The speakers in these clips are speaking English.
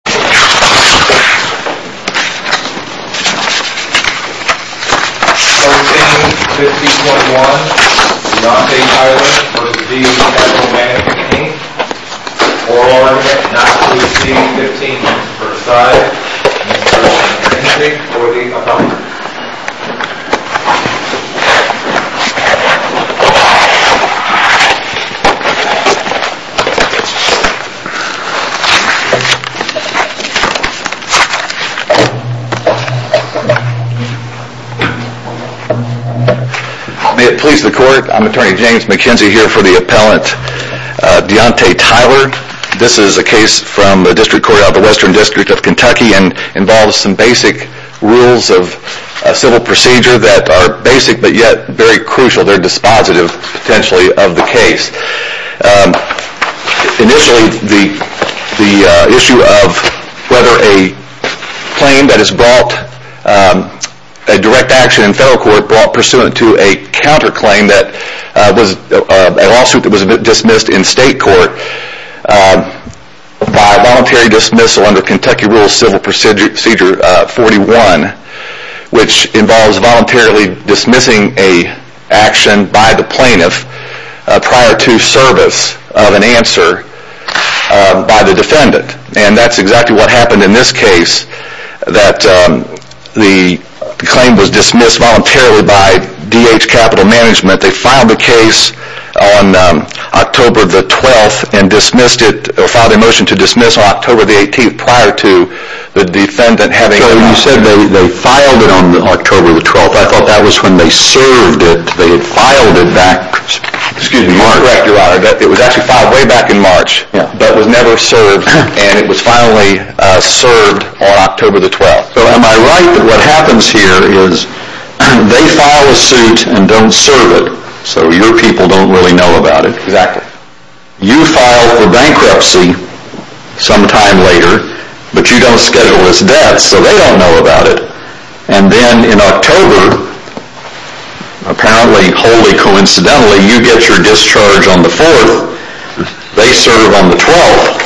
14, 15.1, Dante Tyler v. DH Capital Mgmt Inc 4R, Knoxville, DC, 15.1, Versailles, New Orleans, NJ, 40.0 May it please the Court, I am Attorney James McKenzie here for the appellant, Dante Tyler. This is a case from the District Court of the Western District of Kentucky and involves some basic rules of civil procedure that are basic but yet very crucial. They are dispositive whether a claim that has brought a direct action in federal court brought pursuant to a counterclaim that was a lawsuit that was dismissed in state court by voluntary dismissal under Kentucky Rules Civil Procedure 41, which involves voluntarily dismissing an action by the plaintiff prior to service of an answer by the defendant. And that's exactly what happened in this case that the claim was dismissed voluntarily by DH Capital Mgmt. They filed the case on October 12 and dismissed it, filed a motion to dismiss on October 18 prior to the defendant having an answer. Am I right that what happens here is they file a suit and don't serve it, so your people don't really know about it. You file for bankruptcy sometime later, but you don't schedule this death, so they don't know about it. And then in October, apparently, wholly coincidentally, you get your discharge on the 4th, they serve on the 12th,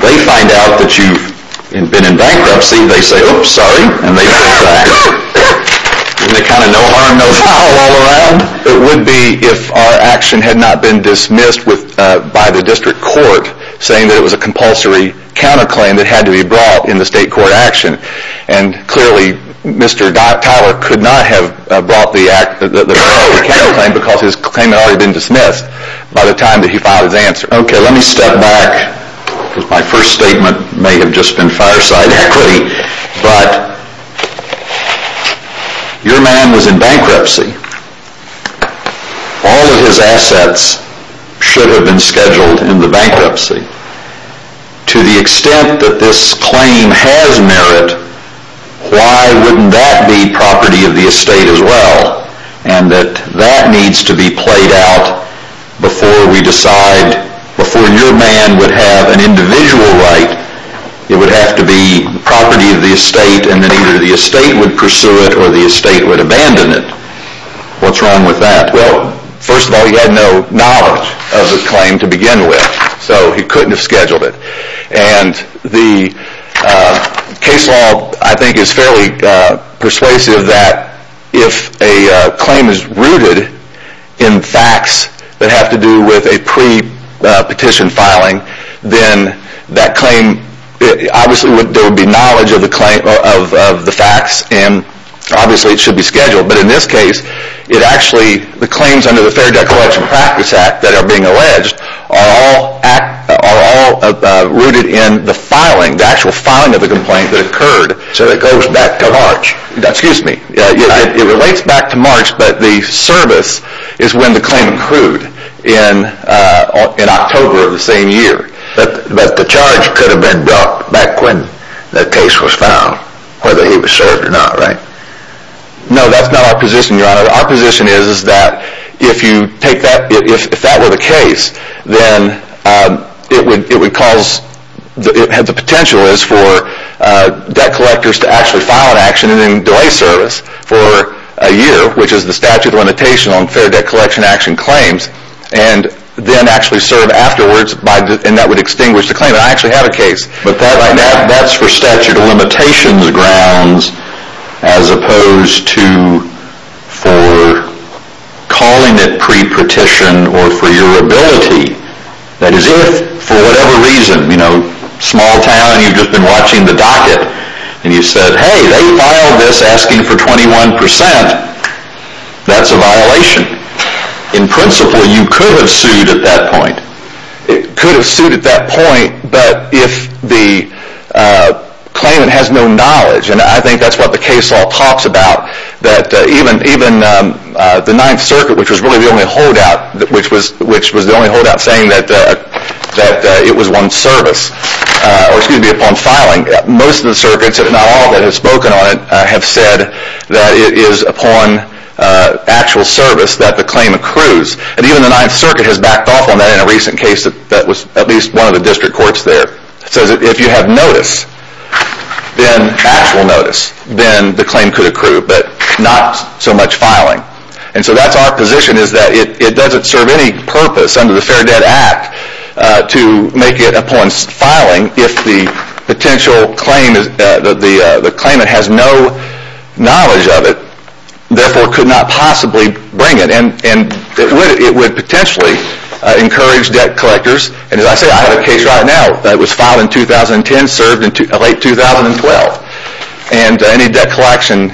they find out that you've been in bankruptcy, they say, oops, sorry, and they bring it back. Isn't it kind of no harm, no foul all around? It would be if our action had not been dismissed by the district court saying that it was a compulsory counterclaim that had to be brought in the state court action. And clearly, Mr. Tyler could not have brought the counterclaim because his claim had already been dismissed by the time that he filed his answer. Okay, let me step back. My first statement may have just been fireside equity, but your man was in bankruptcy. All of his assets should have been scheduled in the bankruptcy. To the extent that this claim has merit, why wouldn't that be property of the estate as well? And that that needs to be played out before we decide, before your man would have an individual right, it would have to be property of the estate and then either the estate would pursue it or the estate would abandon it. What's wrong with that? Well, first of all, he had no knowledge of the claim to begin with, so he couldn't have scheduled it. And the case law, I think, is fairly persuasive that if a claim is rooted in facts that have to do with a pre-petition filing, then that claim, obviously there would be knowledge of the facts and obviously it should be scheduled. But in this case, it actually, the claims under the Fair Debt Collection Practice Act that are being alleged are all rooted in the filing, the actual filing of the complaint that occurred. So it goes back to March. Excuse me. It relates back to March, but the service is when the claim occurred in October of the same year. But the charge could have been brought back when the case was filed, whether he was served or not, right? No, that's not our position, Your Honor. Our position is that if you take that, if that were the case, then it would cause, the potential is for debt collectors to actually file an action and then delay service for a year, which is the statute of limitation on fair debt collection action claims, and then actually serve afterwards and that would extinguish the claim. But that's for statute of limitations grounds as opposed to for calling it pre-petition or for your ability. That is, if for whatever reason, you know, small town, you've just been watching the docket and you said, hey, they filed this asking for 21%, that's a violation. In principle, you could have sued at that point. But if the claimant has no knowledge, and I think that's what the case law talks about, that even the Ninth Circuit, which was really the only holdout, which was the only holdout saying that it was one service, or excuse me, upon filing. Most of the circuits, if not all, that have spoken on it have said that it is upon actual service that the claim accrues. And even the Ninth Circuit has backed off on that in a recent case that was at least one of the district courts there. It says that if you have notice, then actual notice, then the claim could accrue, but not so much filing. And so that's our position is that it doesn't serve any purpose under the Fair Debt Act to make it upon filing if the potential claim, the claimant has no knowledge of it, therefore could not possibly bring it. And it would potentially encourage debt collectors, and as I say, I have a case right now that was filed in 2010, served in late 2012. And any debt collection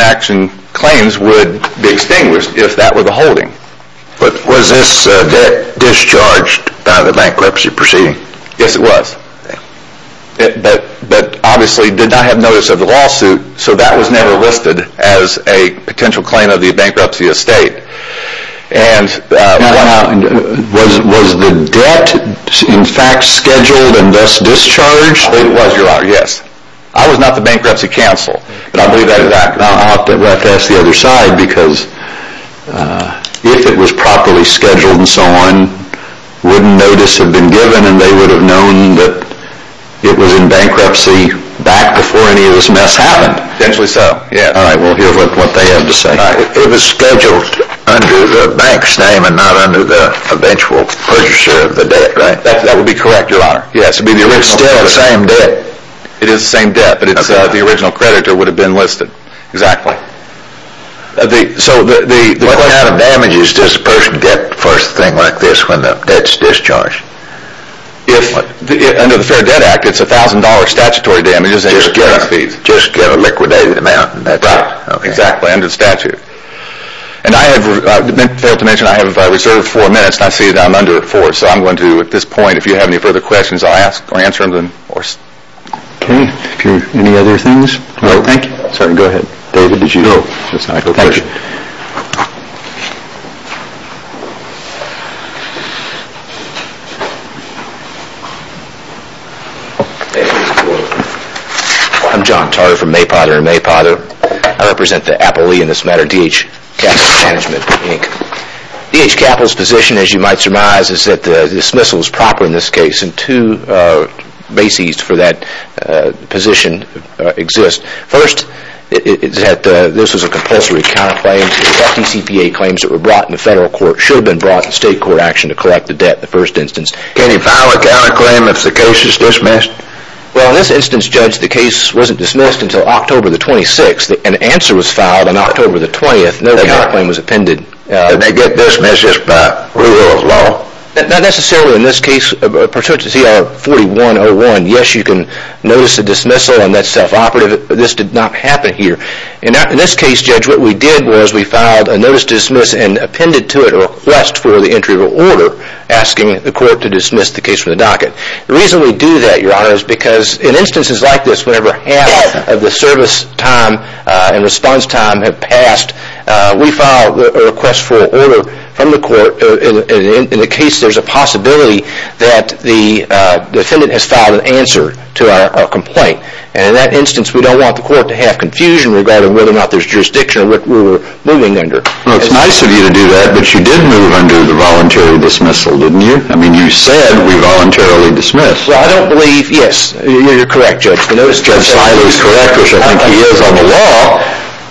action claims would be extinguished if that were the holding. But was this debt discharged by the bankruptcy proceeding? Yes, it was. But obviously did not have notice of the lawsuit, so that was never listed as a potential claim of the bankruptcy estate. And was the debt in fact scheduled and thus discharged? It was, Your Honor, yes. I was not the bankruptcy counsel, but I believe that is accurate. Well, I have to ask the other side, because if it was properly scheduled and so on, wouldn't notice have been given and they would have known that it was in bankruptcy back before any of this mess happened? Essentially so, yes. All right, well, here's what they have to say. It was scheduled under the bank's name and not under the eventual purchase of the debt, right? That would be correct, Your Honor. Yes, it would be the original credit. It's still the same debt. It is the same debt, but the original credit would have been listed. Exactly. So the question… What kind of damages does a person get for a thing like this when the debt's discharged? Under the Fair Debt Act, it's $1,000 statutory damages. Just get a liquidated amount. Exactly, under the statute. And I have failed to mention I have reserved four minutes, and I see that I'm under four. So I'm going to, at this point, if you have any further questions, I'll ask or answer them. Okay. If you have any other things… No. Thank you. Sergeant, go ahead. David, did you… No. It's my pleasure. Thank you. I'm John Taro from May Potter and May Potter. I represent the Apolee, in this matter, DH Capital Management, Inc. DH Capital's position, as you might surmise, is that the dismissal is proper in this case, and two bases for that position exist. First, this was a compulsory counterclaim. The FDCPA claims that were brought in the federal court should have been brought in state court action to collect the debt in the first instance. Can you file a counterclaim if the case is dismissed? Well, in this instance, Judge, the case wasn't dismissed until October the 26th. An answer was filed on October the 20th. No counterclaim was appended. Did they get dismissed just by rule of law? Not necessarily in this case pursuant to CR 4101. Yes, you can notice a dismissal, and that's self-operative. This did not happen here. In this case, Judge, what we did was we filed a notice to dismiss and appended to it a request for the entry of an order asking the court to dismiss the case from the docket. The reason we do that, Your Honor, is because in instances like this, whenever half of the service time and response time have passed, we file a request for an order from the court in the case there's a possibility that the defendant has filed an answer to our complaint. In that instance, we don't want the court to have confusion regarding whether or not there's jurisdiction or what we're moving under. Well, it's nice of you to do that, but you did move under the voluntary dismissal, didn't you? I mean, you said we voluntarily dismissed. Well, I don't believe, yes, you're correct, Judge. If I was correct, which I think he is on the law,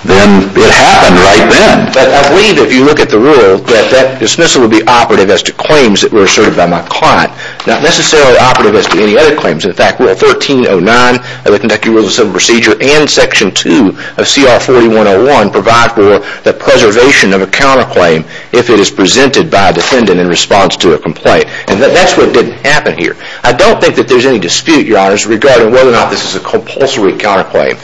then it happened right then. But I believe if you look at the rule that that dismissal would be operative as to claims that were asserted by my client, not necessarily operative as to any other claims. In fact, Rule 1309 of the Conducting Rules of Civil Procedure and Section 2 of CR 4101 provide for the preservation of a counterclaim if it is presented by a defendant in response to a complaint. And that's what didn't happen here. I don't think that there's any dispute, Your Honors, regarding whether or not this is a compulsory counterclaim.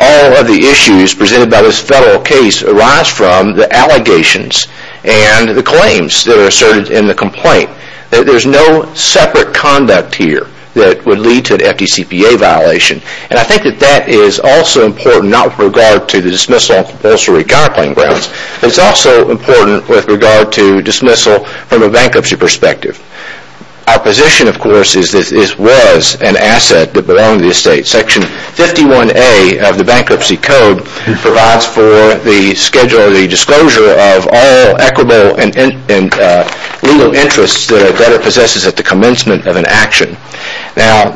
All of the issues presented by this federal case arise from the allegations and the claims that are asserted in the complaint. There's no separate conduct here that would lead to an FDCPA violation. And I think that that is also important, not with regard to the dismissal on compulsory counterclaim grounds. It's also important with regard to dismissal from a bankruptcy perspective. Our position, of course, is that this was an asset that belonged to the estate. Section 51A of the Bankruptcy Code provides for the schedule or the disclosure of all equitable and legal interests that a debtor possesses at the commencement of an action. Now,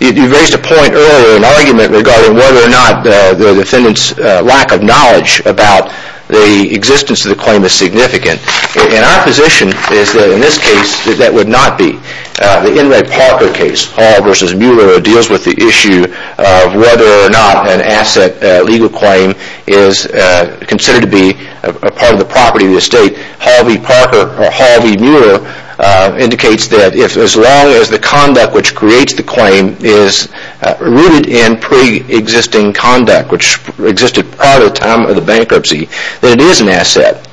you raised a point earlier, an argument regarding whether or not the defendant's lack of knowledge about the existence of the claim is significant. And our position is that in this case, that would not be. The Enright Parker case, Hall v. Mueller, deals with the issue of whether or not an asset legal claim is considered to be a part of the property of the estate. Hall v. Parker or Hall v. Mueller indicates that as long as the conduct which creates the claim is rooted in pre-existing conduct, which existed prior to the time of the bankruptcy, that it is an asset.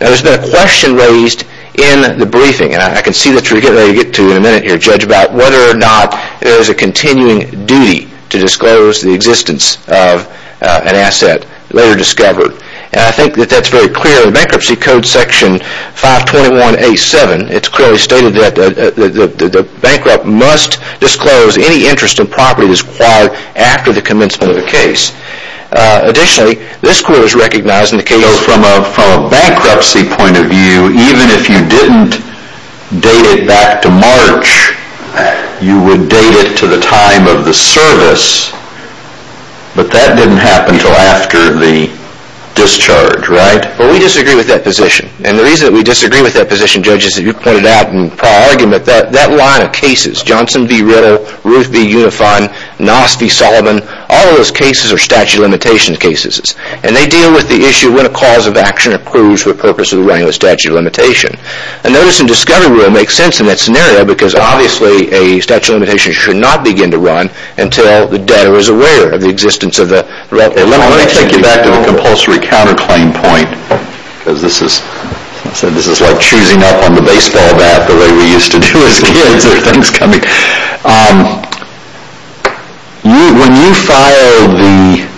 Now, there's been a question raised in the briefing, and I can see that you'll get to in a minute here, Judge, about whether or not there is a continuing duty to disclose the existence of an asset later discovered. And I think that that's very clear in the Bankruptcy Code, Section 521A.7. It's clearly stated that the bankrupt must disclose any interest in property that is acquired after the commencement of a case. Additionally, this court has recognized in the case... So from a bankruptcy point of view, even if you didn't date it back to March, you would date it to the time of the service, but that didn't happen until after the discharge, right? Well, we disagree with that position, and the reason that we disagree with that position, Judge, is that you pointed out in the prior argument that that line of cases, Johnson v. Ritter, Ruth v. Unifine, Noss v. Sullivan, all of those cases are statute of limitations cases, and they deal with the issue of when a cause of action approves for the purpose of running a statute of limitation. A notice in discovery rule makes sense in that scenario because obviously a statute of limitation should not begin to run until the debtor is aware of the existence of the relevant... Let me take you back to a compulsory counterclaim point, because this is like choosing up on the baseball bat the way we used to do as kids at Thanksgiving. When you filed the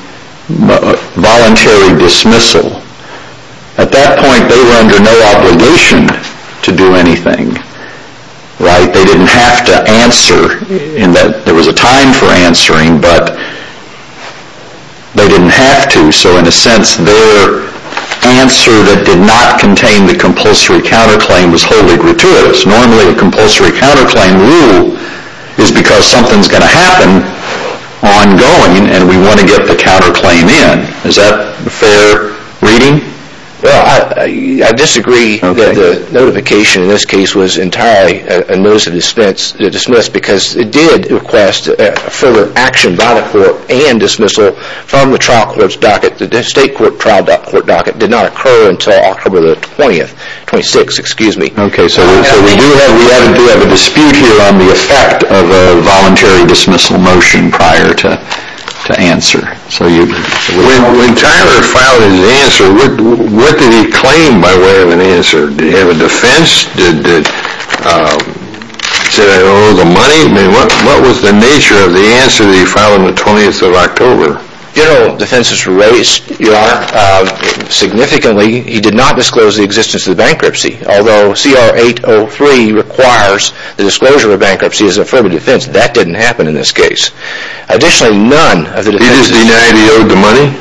voluntary dismissal, at that point they were under no obligation to do anything, right? They didn't have to answer in that there was a time for answering, but they didn't have to, so in a sense their answer that did not contain the compulsory counterclaim was wholly gratuitous. Normally a compulsory counterclaim rule is because something's going to happen ongoing, and we want to get the counterclaim in. Is that a fair reading? Well, I disagree that the notification in this case was entirely a notice of dismissal because it did request a further action by the court and dismissal from the trial court's docket. The state trial court docket did not occur until October the 20th, 26th, excuse me. Okay, so we do have a dispute here on the effect of a voluntary dismissal motion prior to answer. When Tyler filed his answer, what did he claim by way of an answer? Did he have a defense? Did he say that he owed the money? I mean, what was the nature of the answer that he filed on the 20th of October? General defenses were raised, Your Honor. Significantly, he did not disclose the existence of the bankruptcy, although CR 803 requires the disclosure of bankruptcy as an affirmative defense. That didn't happen in this case. He just denied he owed the money?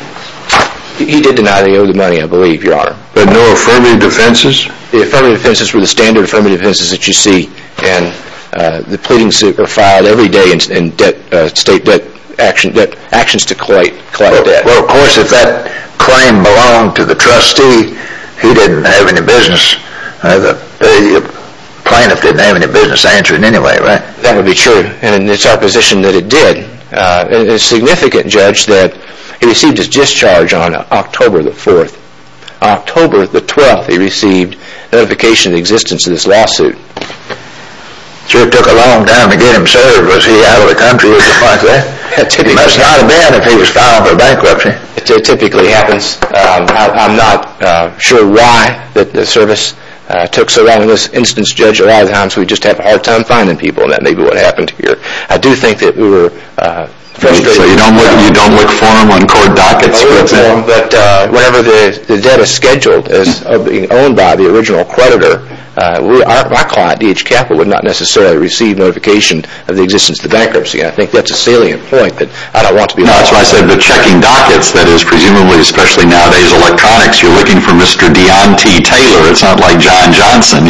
He did deny that he owed the money, I believe, Your Honor. But no affirmative defenses? The affirmative defenses were the standard affirmative defenses that you see and the pleadings that are filed every day in state debt actions to collect debt. Well, of course, if that claim belonged to the trustee, he didn't have any business, the plaintiff didn't have any business answering anyway, right? That would be true, and it's our position that it did. And it's significant, Judge, that he received his discharge on October the 4th. On October the 12th, he received notification of existence of this lawsuit. Sure took a long time to get him served. Was he out of the country at the point of that? It must not have been if he was filed for bankruptcy. It typically happens. I'm not sure why the service took so long. In this instance, Judge, a lot of times we just have a hard time finding people, and that may be what happened here. I do think that we were frustrated. So you don't look for them on court dockets, for example? I do look for them, but whenever the debt is scheduled as being owned by the original creditor, our client, DH Capital, would not necessarily receive notification of the existence of the bankruptcy, and I think that's a salient point that I don't want to be involved in. No, that's what I said. But checking dockets, that is presumably, especially nowadays, electronics, you're looking for Mr. Dion T. Taylor. It's not like John Johnson.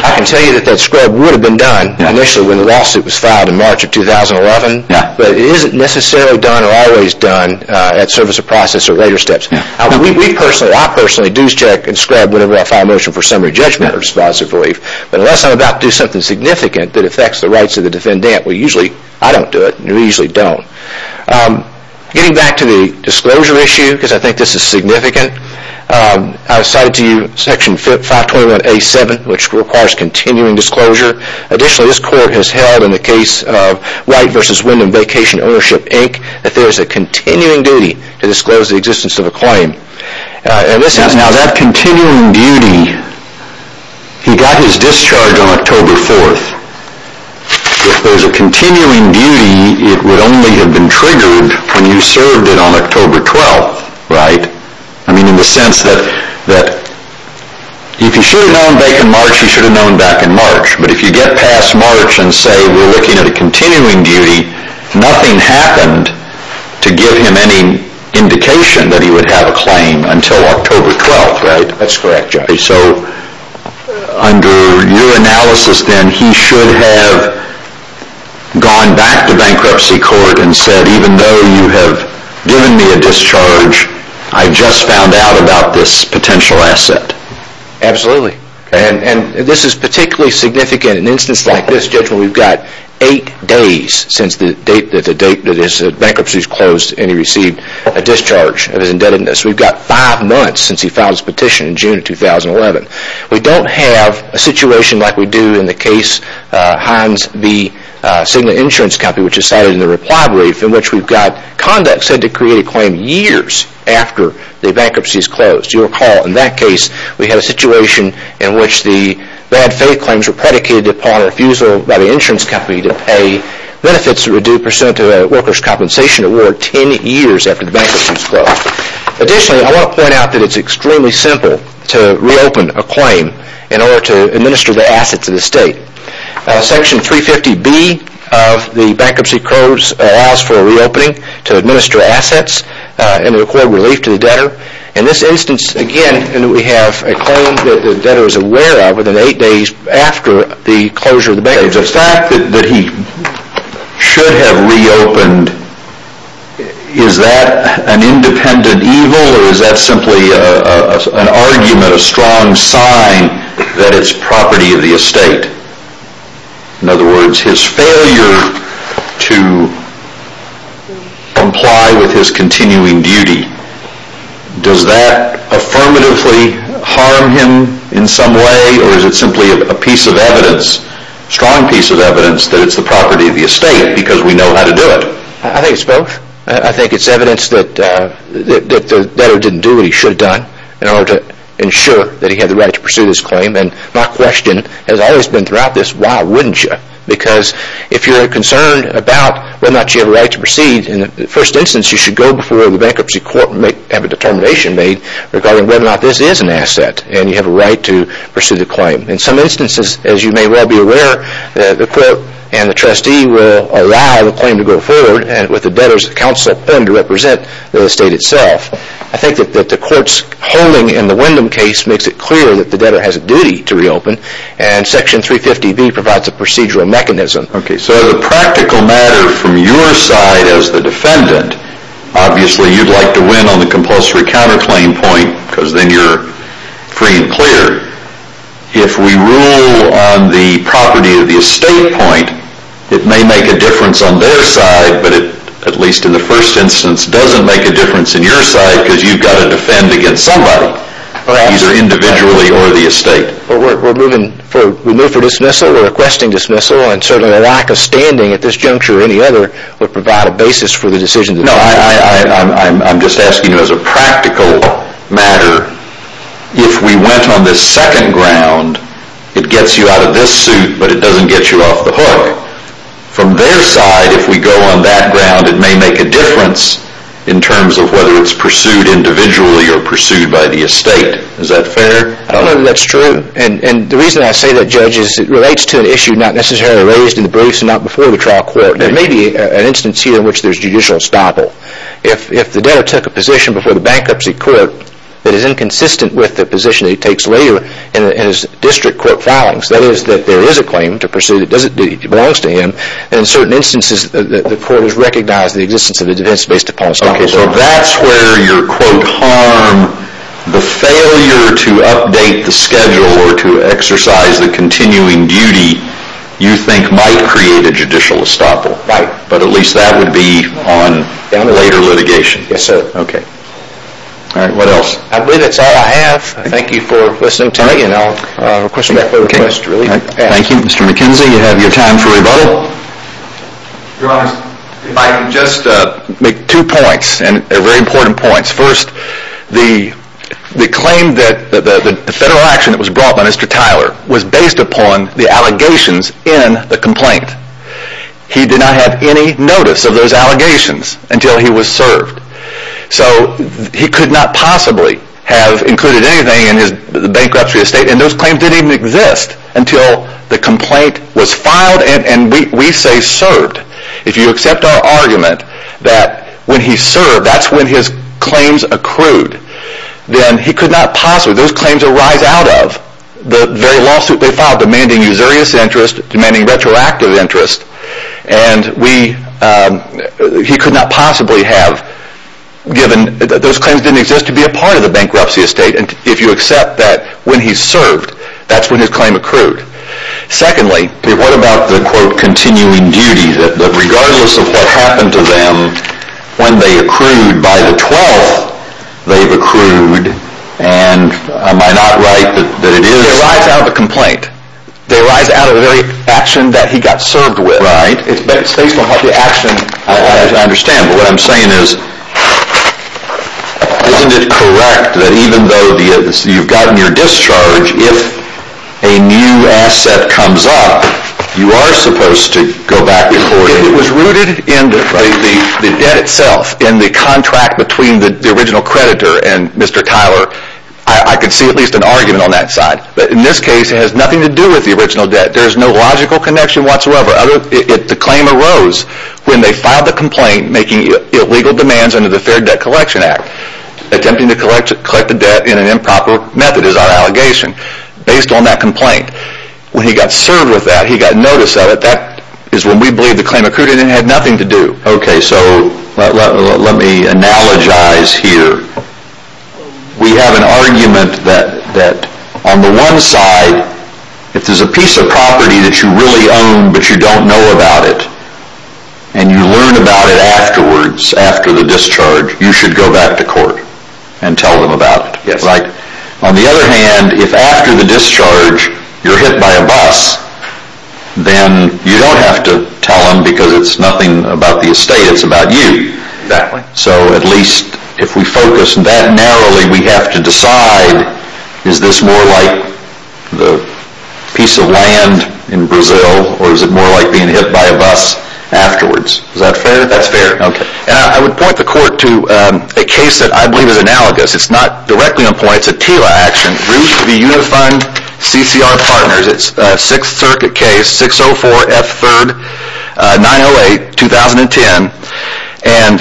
I can tell you that that scrub would have been done initially when the lawsuit was filed in March of 2011, but it isn't necessarily done or always done at service of process or later steps. I personally do check and scrub whenever I file a motion for summary judgment or dispositive relief, but unless I'm about to do something significant that affects the rights of the defendant, well, usually I don't do it, and you usually don't. Getting back to the disclosure issue, because I think this is significant, I cited to you Section 521A.7, which requires continuing disclosure. Additionally, this court has held in the case of White v. Wyndham Vacation Ownership, Inc., that there is a continuing duty to disclose the existence of a claim. Now, that continuing duty, he got his discharge on October 4th. If there's a continuing duty, it would only have been triggered when you served it on October 12th, right? I mean, in the sense that if he should have known back in March, he should have known back in March, but if you get past March and say we're looking at a continuing duty, nothing happened to give him any indication that he would have a claim until October 12th, right? That's correct, Judge. Okay, so under your analysis then, he should have gone back to bankruptcy court and said, even though you have given me a discharge, I just found out about this potential asset. Absolutely. And this is particularly significant in an instance like this, Judge, where we've got eight days since the date that his bankruptcy was closed and he received a discharge of his indebtedness. We've got five months since he filed his petition in June of 2011. We don't have a situation like we do in the case, Hines v. Signet Insurance Company, which is cited in the reply brief in which we've got conduct said to create a claim years after the bankruptcy is closed. You'll recall in that case, we had a situation in which the bad faith claims were predicated upon refusal by the insurance company to pay benefits that were due compensation award ten years after the bankruptcy was closed. Additionally, I want to point out that it's extremely simple to reopen a claim in order to administer the assets of the state. Section 350B of the Bankruptcy Codes allows for reopening to administer assets and record relief to the debtor. In this instance, again, we have a claim that the debtor is aware of within eight days after the closure of the bankruptcy. The fact that he should have reopened, is that an independent evil or is that simply an argument, a strong sign that it's property of the estate? In other words, his failure to comply with his continuing duty, does that affirmatively harm him in some way or is it simply a piece of evidence? A strong piece of evidence that it's the property of the estate because we know how to do it. I think it's both. I think it's evidence that the debtor didn't do what he should have done in order to ensure that he had the right to pursue this claim. My question has always been throughout this, why wouldn't you? Because if you're concerned about whether or not you have a right to proceed, in the first instance you should go before the bankruptcy court and have a determination made regarding whether or not this is an asset and you have a right to pursue the claim. In some instances, as you may well be aware, the court and the trustee will allow the claim to go forward with the debtor's counsel to represent the estate itself. I think that the court's holding in the Wyndham case makes it clear that the debtor has a duty to reopen and section 350B provides a procedural mechanism. So the practical matter from your side as the defendant, obviously you'd like to win on the compulsory counterclaim point because then you're free and clear. If we rule on the property of the estate point, it may make a difference on their side, but it, at least in the first instance, doesn't make a difference on your side because you've got to defend against somebody, either individually or the estate. We're moving for dismissal, we're requesting dismissal, and certainly a lack of standing at this juncture or any other would provide a basis for the decision to be made. I'm just asking you as a practical matter, if we went on this second ground, it gets you out of this suit, but it doesn't get you off the hook. From their side, if we go on that ground, it may make a difference in terms of whether it's pursued individually or pursued by the estate. Is that fair? I don't know if that's true. And the reason I say that, Judge, is it relates to an issue not necessarily raised in the briefs and not before the trial court. There may be an instance here in which there's judicial estoppel. If the debtor took a position before the bankruptcy court that is inconsistent with the position he takes later in his district court filings, that is, that there is a claim to pursue that belongs to him, and in certain instances the court has recognized the existence of a defense based upon estoppel. So that's where your, quote, harm, the failure to update the schedule or to exercise the continuing duty you think might create a judicial estoppel. Right. But at least that would be on later litigation. Yes, sir. Okay. All right, what else? I believe that's all I have. Thank you for listening to me, and I'll question back later. Okay, thank you. Mr. McKenzie, you have your time for rebuttal. Your Honor, if I can just make two points, and they're very important points. First, the claim that the federal action that was brought by Mr. Tyler was based upon the allegations in the complaint. He did not have any notice of those allegations until he was served. So he could not possibly have included anything in his bankruptcy estate, and those claims didn't even exist until the complaint was filed, and we say served. If you accept our argument that when he served, that's when his claims accrued, then he could not possibly, those claims arise out of the very lawsuit they filed, demanding usurious interest, demanding retroactive interest, and he could not possibly have given, those claims didn't exist to be a part of the bankruptcy estate, and if you accept that when he served, that's when his claim accrued. Secondly, what about the quote continuing duty, that regardless of what happened to them, when they accrued by the 12th, they've accrued, and am I not right that it is? They arise out of a complaint. They arise out of the very action that he got served with. Right. It's based on what the action. I understand, but what I'm saying is, isn't it correct that even though you've gotten your discharge, if a new asset comes up, you are supposed to go back to court? It was rooted in the debt itself, in the contract between the original creditor and Mr. Tyler. I could see at least an argument on that side, but in this case, it has nothing to do with the original debt. There's no logical connection whatsoever. The claim arose when they filed the complaint, making illegal demands under the Fair Debt Collection Act, attempting to collect the debt in an improper method, is our allegation, based on that complaint. When he got served with that, he got notice of it, that is when we believe the claim accrued, and it had nothing to do. Okay, so let me analogize here. We have an argument that on the one side, if there's a piece of property that you really own, but you don't know about it, and you learn about it afterwards, after the discharge, you should go back to court and tell them about it, right? Yes. On the other hand, if after the discharge, you're hit by a bus, then you don't have to tell them, because it's nothing about the estate, it's about you. Exactly. So at least if we focus that narrowly, we have to decide, is this more like the piece of land in Brazil, or is it more like being hit by a bus afterwards? Is that fair? That's fair. Okay. I would point the court to a case that I believe is analogous. It's not directly on point, it's a TILA action, Root v. Unifund CCR Partners. It's a Sixth Circuit case, 604 F. 3rd, 908, 2010. And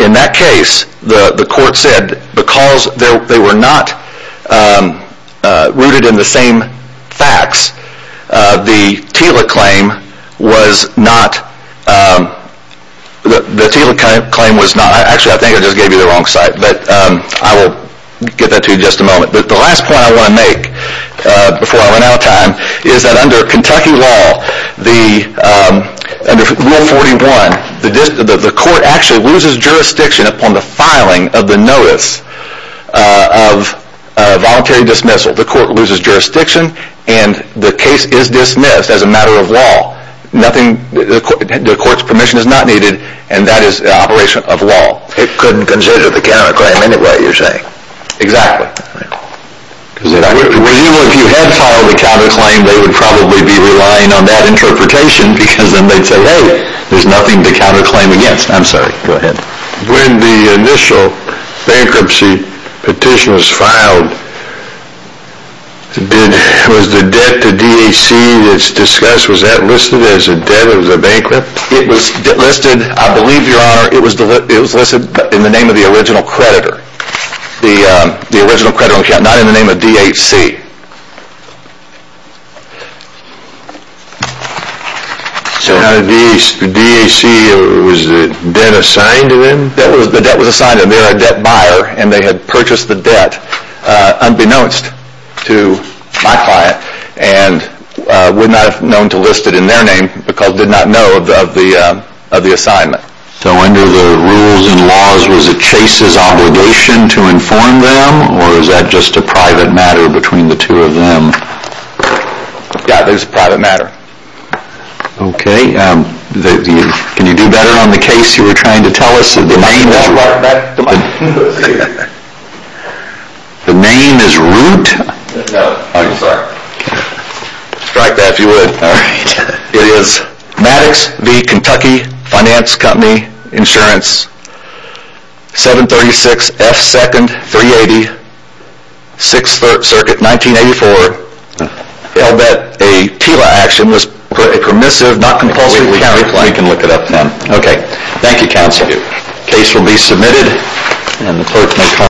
in that case, the court said, because they were not rooted in the same facts, the TILA claim was not... Actually, I think I just gave you the wrong site, but I will get that to you in just a moment. But the last point I want to make, before I run out of time, is that under Kentucky law, under Rule 41, the court actually loses jurisdiction upon the filing of the notice of voluntary dismissal. The court loses jurisdiction, and the case is dismissed as a matter of law. The court's permission is not needed, and that is an operation of law. It couldn't consider the counterclaim anyway, you're saying. Exactly. If you had filed a counterclaim, they would probably be relying on that interpretation, because then they'd say, hey, there's nothing to counterclaim against. I'm sorry, go ahead. When the initial bankruptcy petition was filed, was the debt to DHC that's discussed, was that listed as a debt, as a bankrupt? It was listed, I believe, Your Honor, it was listed in the name of the original creditor. The original creditor on account, not in the name of DHC. So DHC, was the debt assigned to them? The debt was assigned, and they're a debt buyer, and they had purchased the debt unbeknownst to my client, and would not have known to list it in their name because they did not know of the assignment. So under the rules and laws, was it Chase's obligation to inform them, or is that just a private matter between the two parties? Between the two of them. Yeah, it was a private matter. Okay, can you do better on the case you were trying to tell us? The name is Root? No, I'm sorry. Strike that if you would. It is Maddox v. Kentucky Finance Company Insurance, 736 F. 2nd, 380, 6th Circuit, 1984. I'll bet a TLA action was permissive, not compulsory. We can look it up now. Okay, thank you counsel. The case will be submitted, and the clerk may comment.